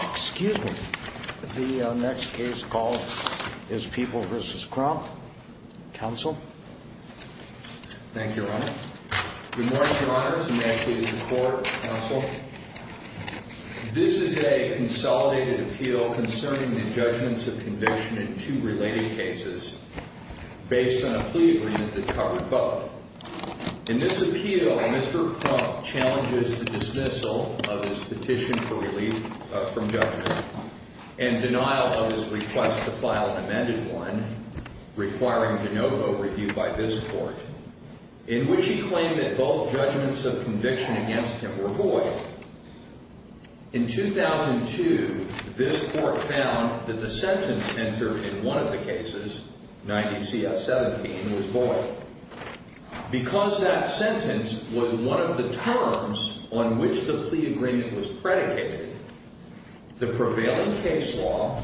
Excuse me. The next case called is People v. Crump. Counsel? Thank you, Your Honor. Good morning, Your Honors, and may I please report, Counsel? This is a consolidated appeal concerning the judgments of conviction in two related cases based on a plea agreement that covered both. In this appeal, Mr. Crump challenges the dismissal of his petition for relief from judgment and denial of his request to file an amended one requiring de novo review by this Court, in which he claimed that both judgments of conviction against him were void. In 2002, this Court found that the sentence entered in one of the cases, 90 CF 17, was void. Because that sentence was one of the terms on which the plea agreement was predicated, the prevailing case law,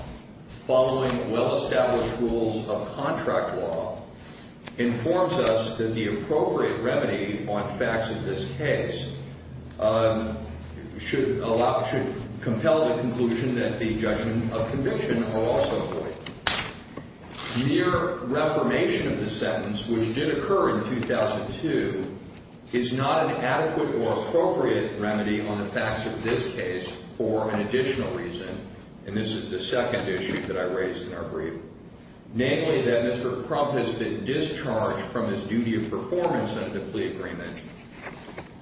following well-established rules of contract law, informs us that the appropriate remedy on facts of this case should allow, should compel the conclusion that the judgment of conviction are also void. Mere reformation of the sentence, which did occur in 2002, is not an adequate or appropriate remedy on the facts of this case for an additional reason, and this is the second issue that I raised in our brief. Namely, that Mr. Crump has been discharged from his duty of performance under the plea agreement,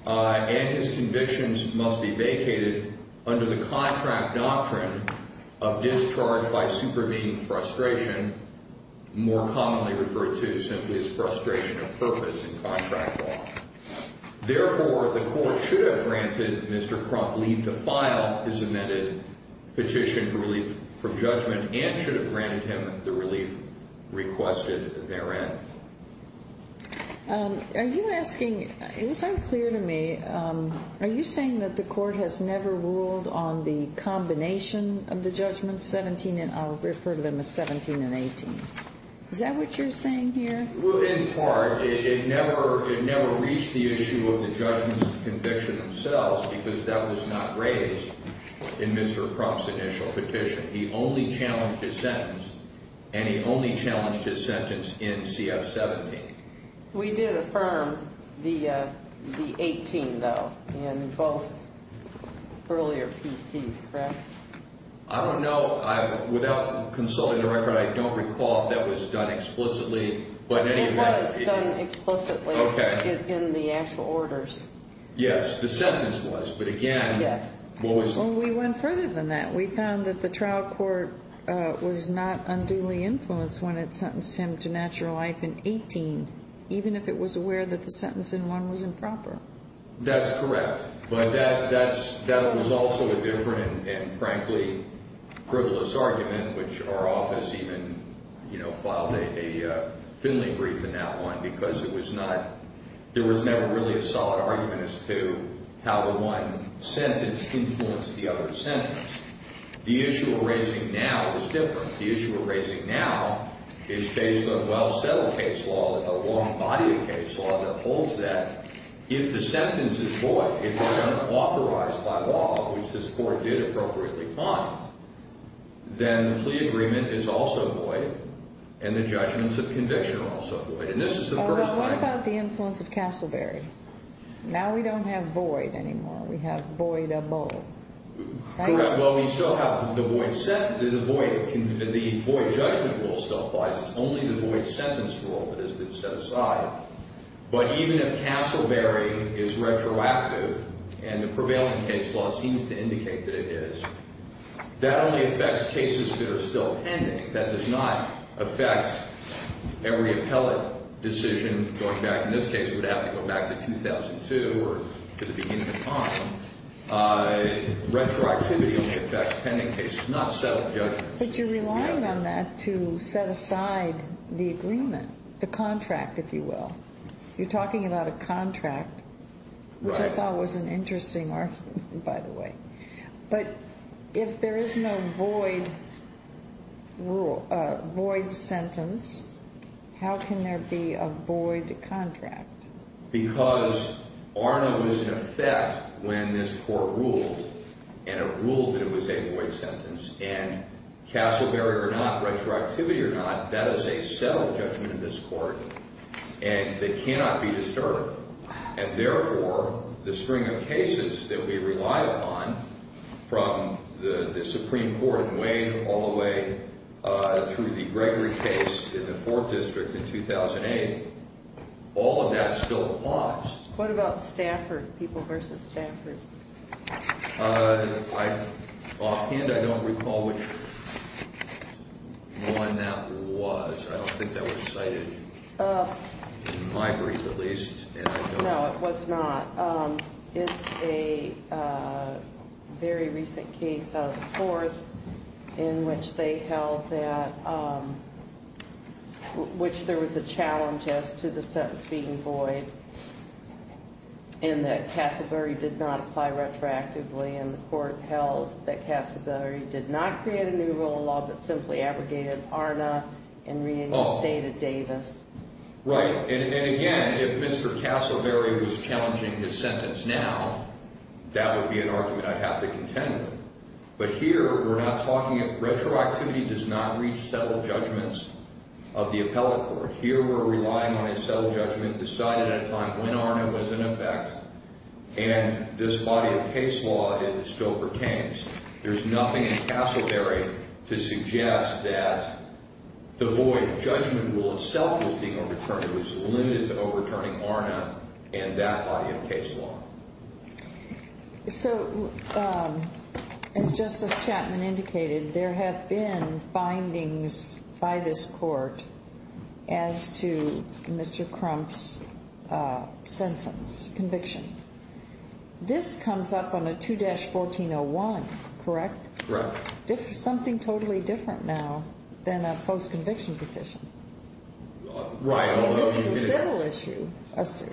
and his convictions must be vacated under the contract doctrine of discharge by supervening frustration, more commonly referred to simply as frustration of purpose in contract law. Therefore, the Court should have granted Mr. Crump leave to file his amended petition for relief from judgment, and should have granted him the relief requested therein. Are you asking, it was unclear to me, are you saying that the Court has never ruled on the combination of the judgments 17 and, I'll refer to them as 17 and 18? Is that what you're saying here? Well, in part, it never reached the issue of the judgments of conviction themselves, because that was not raised in Mr. Crump's initial petition. He only challenged his sentence, and he only challenged his sentence in CF 17. We did affirm the 18, though, in both earlier PCs, correct? I don't know. Without consulting the record, I don't recall if that was done explicitly. It was done explicitly in the actual orders. Yes, the sentence was, but again, what was... Well, we went further than that. We found that the trial court was not unduly influenced when it sentenced him to natural life in 18, even if it was aware that the sentence in one was improper. That's correct, but that was also a different and, frankly, frivolous argument, which our office even filed a Finley brief in that one, because there was never really a solid argument as to how the one sentence influenced the other sentence. The issue we're raising now is different. The issue we're raising now is based on well-settled case law, a long body of case law that holds that if the sentence is void, if it's unauthorized by law, which this court did appropriately find, then the plea agreement is also void, and the judgments of conviction are also void. And this is the first time... Well, what about the influence of Castleberry? Now we don't have void anymore. We have void of both. Well, we still have the void. The void judgment rule still applies. It's only the void sentence rule that has been set aside. But even if Castleberry is retroactive, and the prevailing case law seems to indicate that it is, that only affects cases that are still pending. That does not affect every appellate decision going back. In this case, it would have to go back to 2002 or to the beginning of time. Retroactivity only affects pending cases, not settled judgments. But you're relying on that to set aside the agreement, the contract, if you will. You're talking about a contract, which I thought was an interesting argument, by the way. But if there is no void sentence, how can there be a void contract? Because ARNA was in effect when this court ruled, and it ruled that it was a void sentence, and Castleberry or not, retroactivity or not, that is a settled judgment in this court, and it cannot be disturbed. And therefore, the string of cases that we rely upon, from the Supreme Court in Wayne all the way through the Gregory case in the Fourth District in 2008, all of that still applies. What about Stafford, people versus Stafford? Offhand, I don't recall which one that was. I don't think that was cited in my brief, at least. No, it was not. It's a very recent case out of the Fourth in which they held that, which there was a challenge as to the sentence being void, and that Castleberry did not apply retroactively. And the court held that Castleberry did not create a new rule of law that simply abrogated ARNA and reinstated Davis. Right. And again, if Mr. Castleberry was challenging his sentence now, that would be an argument I'd have to contend with. But here, we're not talking – retroactivity does not reach settled judgments of the appellate court. Here, we're relying on a settled judgment decided at a time when ARNA was in effect, and this body of case law still pertains. There's nothing in Castleberry to suggest that the void judgment rule itself was being overturned. It was limited to overturning ARNA and that body of case law. So, as Justice Chapman indicated, there have been findings by this court as to Mr. Crump's sentence, conviction. This comes up on a 2-1401, correct? Correct. Something totally different now than a post-conviction petition. Right. I mean, this is a civil issue.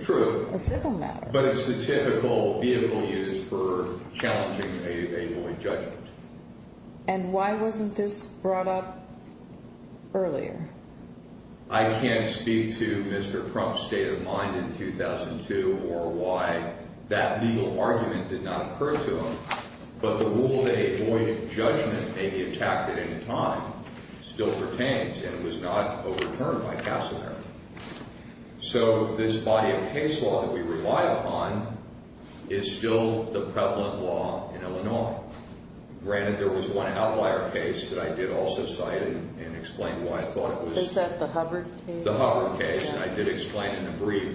True. A civil matter. But it's the typical vehicle used for challenging a void judgment. And why wasn't this brought up earlier? I can't speak to Mr. Crump's state of mind in 2002 or why that legal argument did not occur to him, but the rule that a void judgment may be attacked at any time still pertains, and it was not overturned by Castleberry. So, this body of case law that we rely upon is still the prevalent law in Illinois. Granted, there was one outlier case that I did also cite and explain why I thought it was. Is that the Hubbard case? The Hubbard case, and I did explain in a brief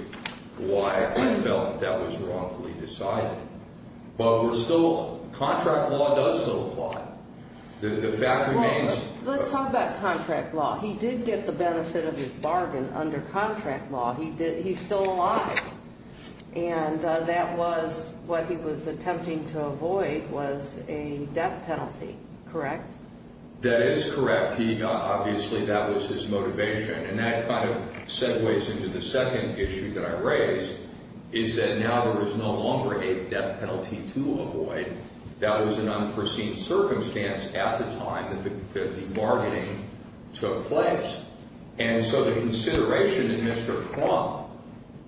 why I felt that was wrongfully decided. But contract law does still apply. The fact remains. Let's talk about contract law. He did get the benefit of his bargain under contract law. He's still alive. And that was what he was attempting to avoid was a death penalty, correct? That is correct. Obviously, that was his motivation. And that kind of segues into the second issue that I raised is that now there is no longer a death penalty to avoid. That was an unforeseen circumstance at the time that the bargaining took place. And so the consideration that Mr. Trump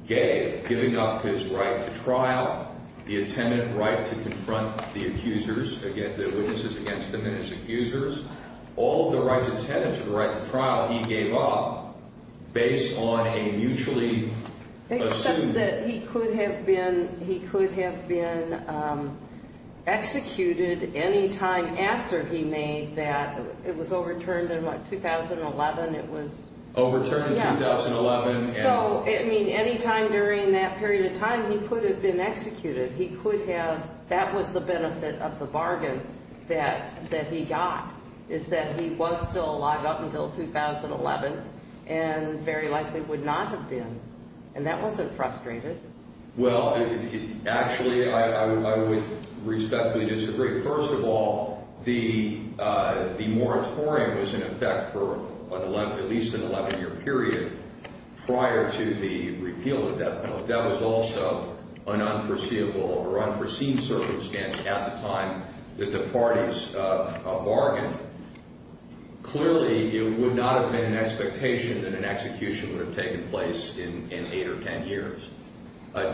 gave, giving up his right to trial, the attendant right to confront the accusers, the witnesses against him and his accusers, all of the rights of the attendants, the right to trial, he gave up based on a mutually assumed. Except that he could have been executed any time after he made that. It was overturned in what, 2011? Overturned in 2011. So, I mean, any time during that period of time, he could have been executed. He could have. That was the benefit of the bargain that he got is that he was still alive up until 2011 and very likely would not have been. And that wasn't frustrating. Well, actually, I would respectfully disagree. First of all, the moratorium was in effect for at least an 11-year period prior to the repeal of the death penalty. That was also an unforeseeable or unforeseen circumstance at the time that the parties bargained. Clearly, it would not have been an expectation that an execution would have taken place in 8 or 10 years.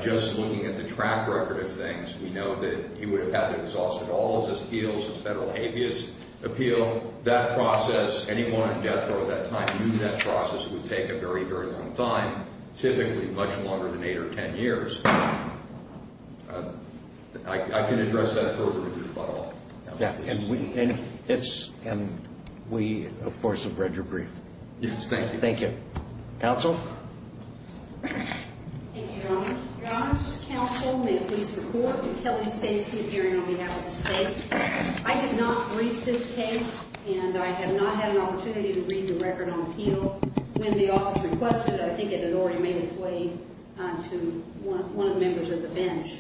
Just looking at the track record of things, we know that he would have had to have exhausted all of his appeals, his federal habeas appeal. That process, anyone on death row at that time knew that process would take a very, very long time, typically much longer than 8 or 10 years. I can address that verbatim, if at all. And we, of course, have read your brief. Yes, thank you. Thank you. Counsel? Thank you, Your Honors. Your Honors, counsel, may it please the Court, I'm Kelly Stacy appearing on behalf of the state. I did not read this case, and I have not had an opportunity to read the record on appeal. When the office requested it, I think it had already made its way to one of the members of the bench.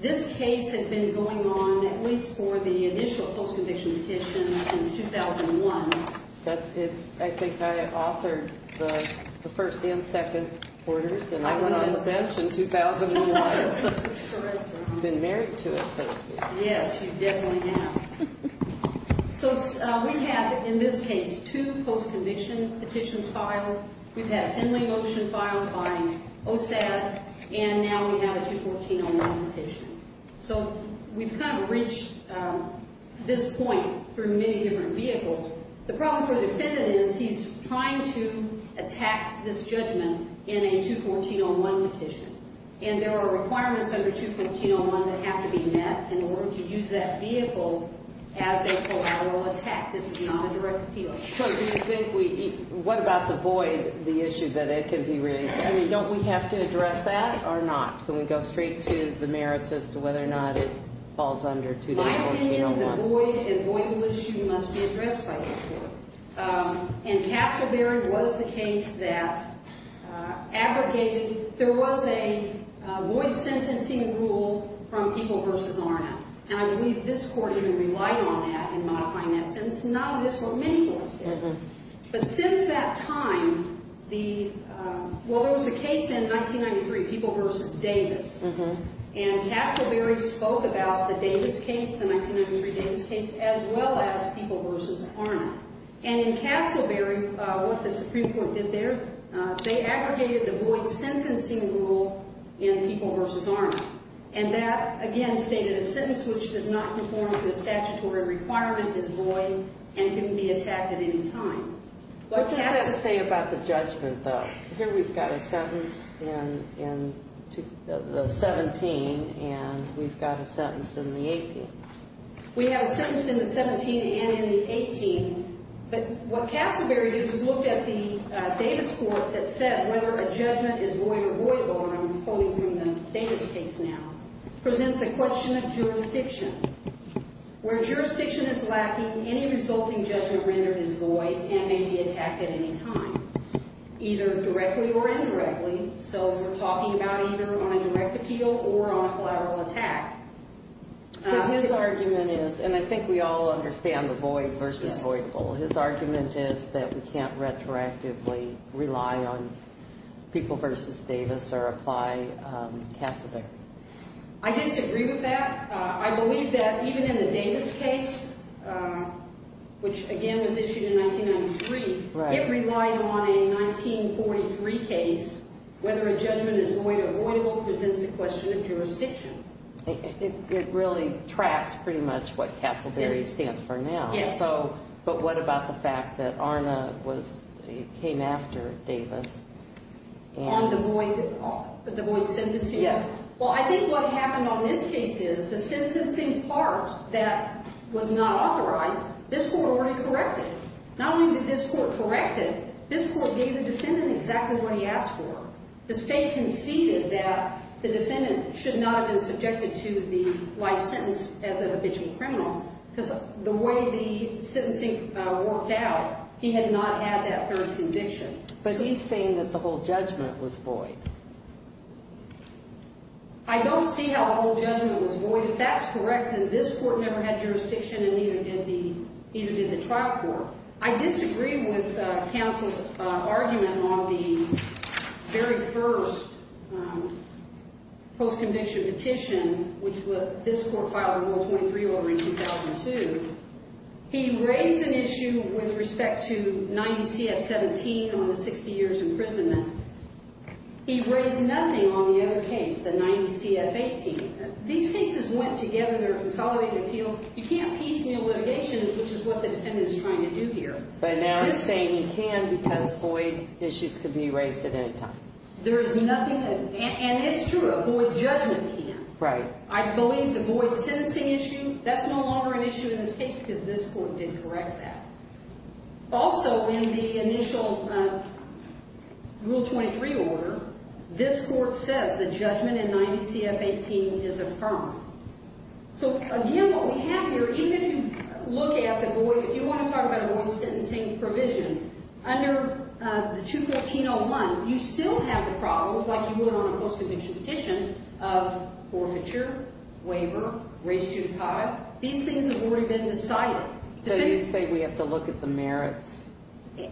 This case has been going on at least for the initial post-conviction petition since 2001. I think I authored the first and second orders, and I went on the bench in 2001. It's correct, Your Honor. I've been married to it, so to speak. Yes, you definitely have. So we have, in this case, two post-conviction petitions filed. We've had a Henley motion filed by OSAD, and now we have a 214-01 petition. So we've kind of reached this point for many different vehicles. The problem for the defendant is he's trying to attack this judgment in a 214-01 petition, and there are requirements under 214-01 that have to be met in order to use that vehicle as a collateral attack. This is not a direct appeal. So do you think we—what about the void, the issue that it could be really—I mean, don't we have to address that or not? Can we go straight to the merits as to whether or not it falls under 214-01? In my opinion, the void and void rule issue must be addressed by this Court. And Castleberry was the case that abrogated—there was a void sentencing rule from People v. Arnett. And I believe this Court even relied on that in modifying that sentence. Not only this Court, many courts did. But since that time, the—well, there was a case in 1993, People v. Davis. And Castleberry spoke about the Davis case, the 1993 Davis case, as well as People v. Arnett. And in Castleberry, what the Supreme Court did there, they abrogated the void sentencing rule in People v. Arnett. And that, again, stated a sentence which does not conform to a statutory requirement is void and can be attacked at any time. But Castle— What does that say about the judgment, though? Here we've got a sentence in the 17, and we've got a sentence in the 18. We have a sentence in the 17 and in the 18. But what Castleberry did was look at the Davis Court that said whether a judgment is void or voidable, and I'm quoting from the Davis case now, presents a question of jurisdiction. Where jurisdiction is lacking, any resulting judgment rendered is void and may be attacked at any time, either directly or indirectly. So we're talking about either on a direct appeal or on a collateral attack. But his argument is—and I think we all understand the void versus voidable. His argument is that we can't retroactively rely on People v. Davis or apply Castleberry. I disagree with that. I believe that even in the Davis case, which, again, was issued in 1993, it relied on a 1943 case. Whether a judgment is void or voidable presents a question of jurisdiction. It really tracks pretty much what Castleberry stands for now. Yes. But what about the fact that ARNA came after Davis? On the void sentencing? Yes. Well, I think what happened on this case is the sentencing part that was not authorized, this court already corrected. Not only did this court correct it, this court gave the defendant exactly what he asked for. The State conceded that the defendant should not have been subjected to the life sentence as an habitual criminal because the way the sentencing worked out, he had not had that third conviction. But he's saying that the whole judgment was void. I don't see how the whole judgment was void. If that's correct, then this court never had jurisdiction and neither did the trial court. I disagree with counsel's argument on the very first post-conviction petition, which this court filed a Rule 23 order in 2002. He raised an issue with respect to 90 CF-17 on the 60 years imprisonment. He raised nothing on the other case, the 90 CF-18. These cases went together. They're a consolidated appeal. You can't piece in your litigation, which is what the defendant is trying to do here. But now he's saying he can because void issues can be raised at any time. There is nothing. And it's true, a void judgment can. Right. I believe the void sentencing issue, that's no longer an issue in this case because this court did correct that. Also, in the initial Rule 23 order, this court says the judgment in 90 CF-18 is affirmed. So, again, what we have here, even if you look at the void, if you want to talk about a void sentencing provision, under the 213-01, you still have the problems, like you would on a post-conviction petition, of forfeiture, waiver, race judicata. These things have already been decided. So you say we have to look at the merits.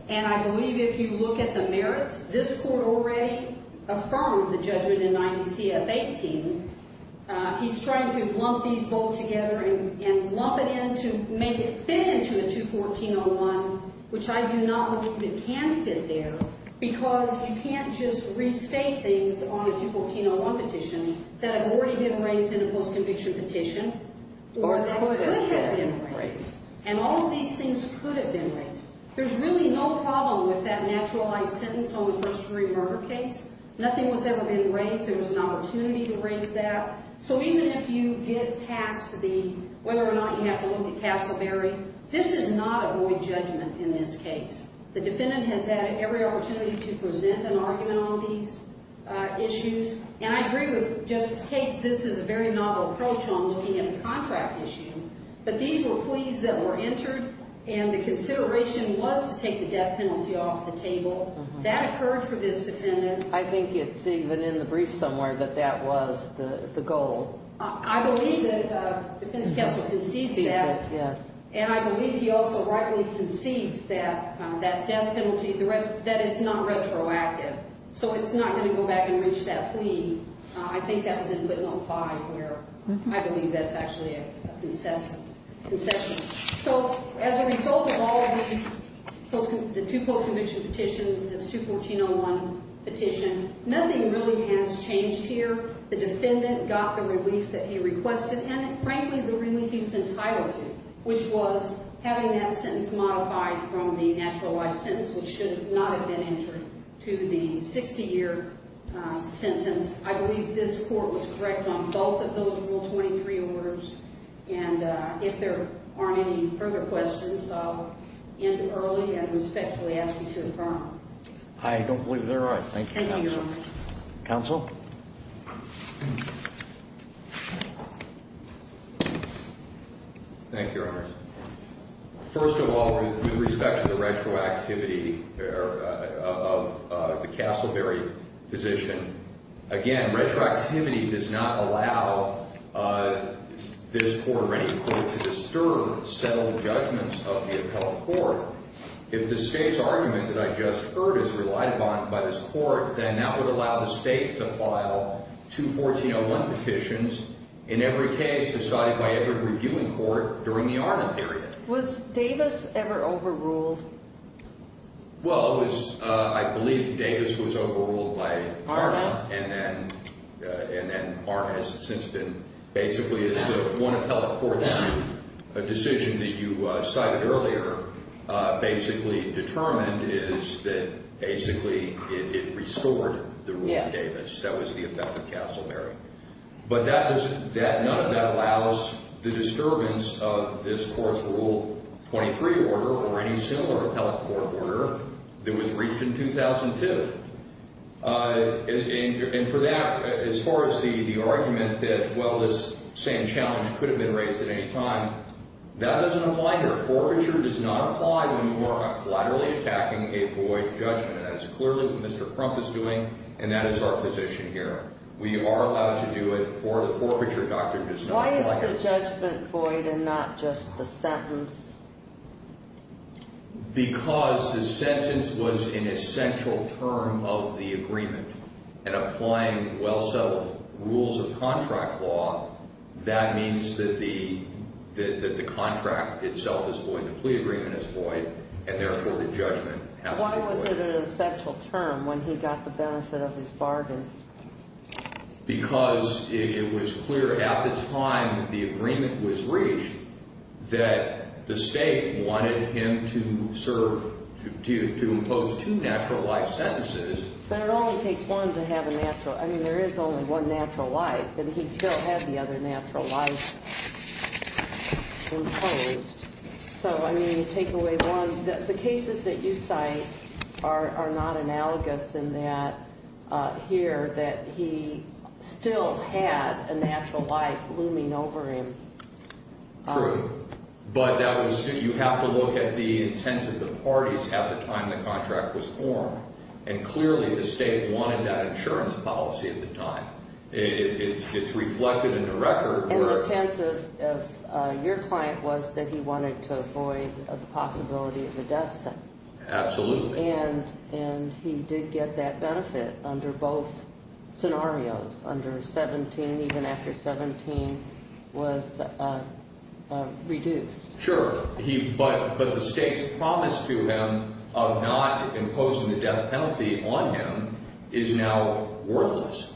And I believe if you look at the merits, this court already affirmed the judgment in 90 CF-18. He's trying to lump these both together and lump it in to make it fit into a 214-01, which I do not believe it can fit there, because you can't just restate things on a 214-01 petition that have already been raised in a post-conviction petition or that could have been raised. And all of these things could have been raised. There's really no problem with that naturalized sentence on the first-degree murder case. Nothing was ever being raised. There was an opportunity to raise that. So even if you get past the whether or not you have to look at Castleberry, this is not a void judgment in this case. The defendant has had every opportunity to present an argument on these issues. And I agree with Justice Cates, this is a very novel approach on looking at a contract issue. But these were pleas that were entered, and the consideration was to take the death penalty off the table. That occurred for this defendant. I think it's even in the brief somewhere that that was the goal. I believe that the defense counsel concedes that. Concedes it, yes. And I believe he also rightly concedes that that death penalty, that it's not retroactive. So it's not going to go back and reach that plea. I think that was in footnote 5 here. I believe that's actually a concession. So as a result of all of these, the two post-conviction petitions, this 214-01 petition, nothing really has changed here. The defendant got the relief that he requested and, frankly, the relief he was entitled to, which was having that sentence modified from the natural life sentence, which should not have been entered, to the 60-year sentence. I believe this court was correct on both of those Rule 23 orders. And if there aren't any further questions, I'll end it early and respectfully ask you to affirm. I don't believe they're right. Thank you, Counsel. Counsel? Thank you, Your Honors. First of all, with respect to the retroactivity of the Castleberry position, again, retroactivity does not allow this court or any court to disturb settled judgments of the appellate court. If the State's argument that I just heard is relied upon by this court, then that would allow the State to file two 14-01 petitions, in every case decided by every reviewing court during the Arnum period. Was Davis ever overruled? Well, I believe Davis was overruled by Arnum. And then Arnum has since been basically as the one appellate court's decision that you cited earlier, basically determined is that basically it restored the rule of Davis. That was the effect of Castleberry. But none of that allows the disturbance of this court's Rule 23 order or any similar appellate court order that was reached in 2002. And for that, as far as the argument that, well, this same challenge could have been raised at any time, that doesn't apply here. Forfeiture does not apply when you are collaterally attacking a void judgment. That is clearly what Mr. Crump is doing, and that is our position here. We are allowed to do it for the forfeiture doctrine. Why is the judgment void and not just the sentence? Because the sentence was an essential term of the agreement. And applying well-settled rules of contract law, that means that the contract itself is void, the plea agreement is void, and therefore the judgment has to be void. Why was it an essential term when he got the benefit of his bargain? Because it was clear at the time the agreement was reached that the state wanted him to serve to impose two natural life sentences. But it only takes one to have a natural. I mean, there is only one natural life, and he still had the other natural life imposed. So, I mean, take away one, the cases that you cite are not analogous in that here that he still had a natural life looming over him. True. But that was, you have to look at the intent of the parties at the time the contract was formed, and clearly the state wanted that insurance policy at the time. It's reflected in the record where— Your client was that he wanted to avoid the possibility of a death sentence. Absolutely. And he did get that benefit under both scenarios, under 17, even after 17 was reduced. Sure. But the state's promise to him of not imposing the death penalty on him is now worthless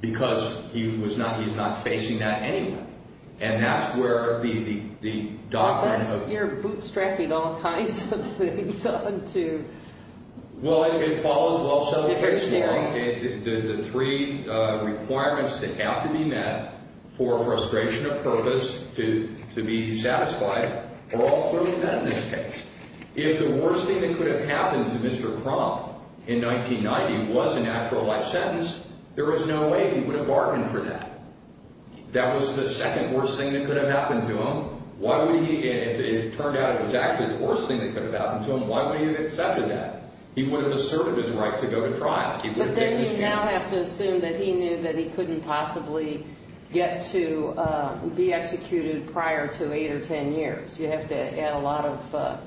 because he's not facing that anyway. And that's where the doctrine of— Well, that's—you're bootstrapping all kinds of things onto— Well, it follows well some of the case law. The three requirements that have to be met for a frustration of purpose to be satisfied are all clearly met in this case. If the worst thing that could have happened to Mr. Crump in 1990 was a natural life sentence, there was no way he would have bargained for that. That was the second worst thing that could have happened to him. Why would he—if it turned out it was actually the worst thing that could have happened to him, why would he have accepted that? He would have asserted his right to go to trial. But then you now have to assume that he knew that he couldn't possibly get to be executed prior to 8 or 10 years. You have to add a lot of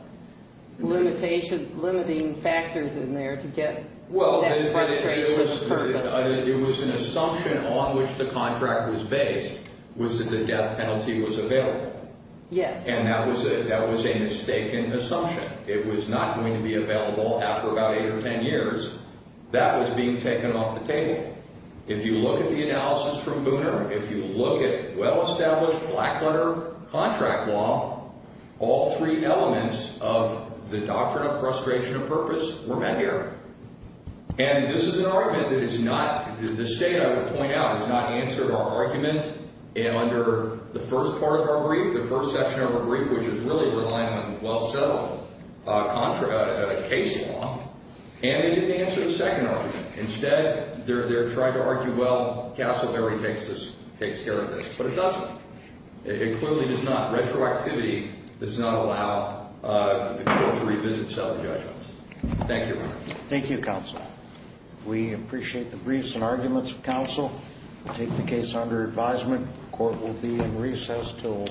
limitation—limiting factors in there to get that frustration of purpose. It was an assumption on which the contract was based was that the death penalty was available. Yes. And that was a mistaken assumption. It was not going to be available after about 8 or 10 years. That was being taken off the table. If you look at the analysis from Booner, if you look at well-established Blackwater contract law, all three elements of the doctrine of frustration of purpose were met here. And this is an argument that is not—the State, I would point out, has not answered our argument. And under the first part of our brief, the first section of our brief, which is really reliant on well-settled case law, and they didn't answer the second argument. Instead, they're trying to argue, well, Castleberry takes this—takes care of this. But it doesn't. It clearly does not. Retroactivity does not allow the court to revisit seldom judgments. Thank you. Thank you, counsel. We appreciate the briefs and arguments of counsel. We'll take the case under advisement. Court will be in recess until 1 p.m. All rise.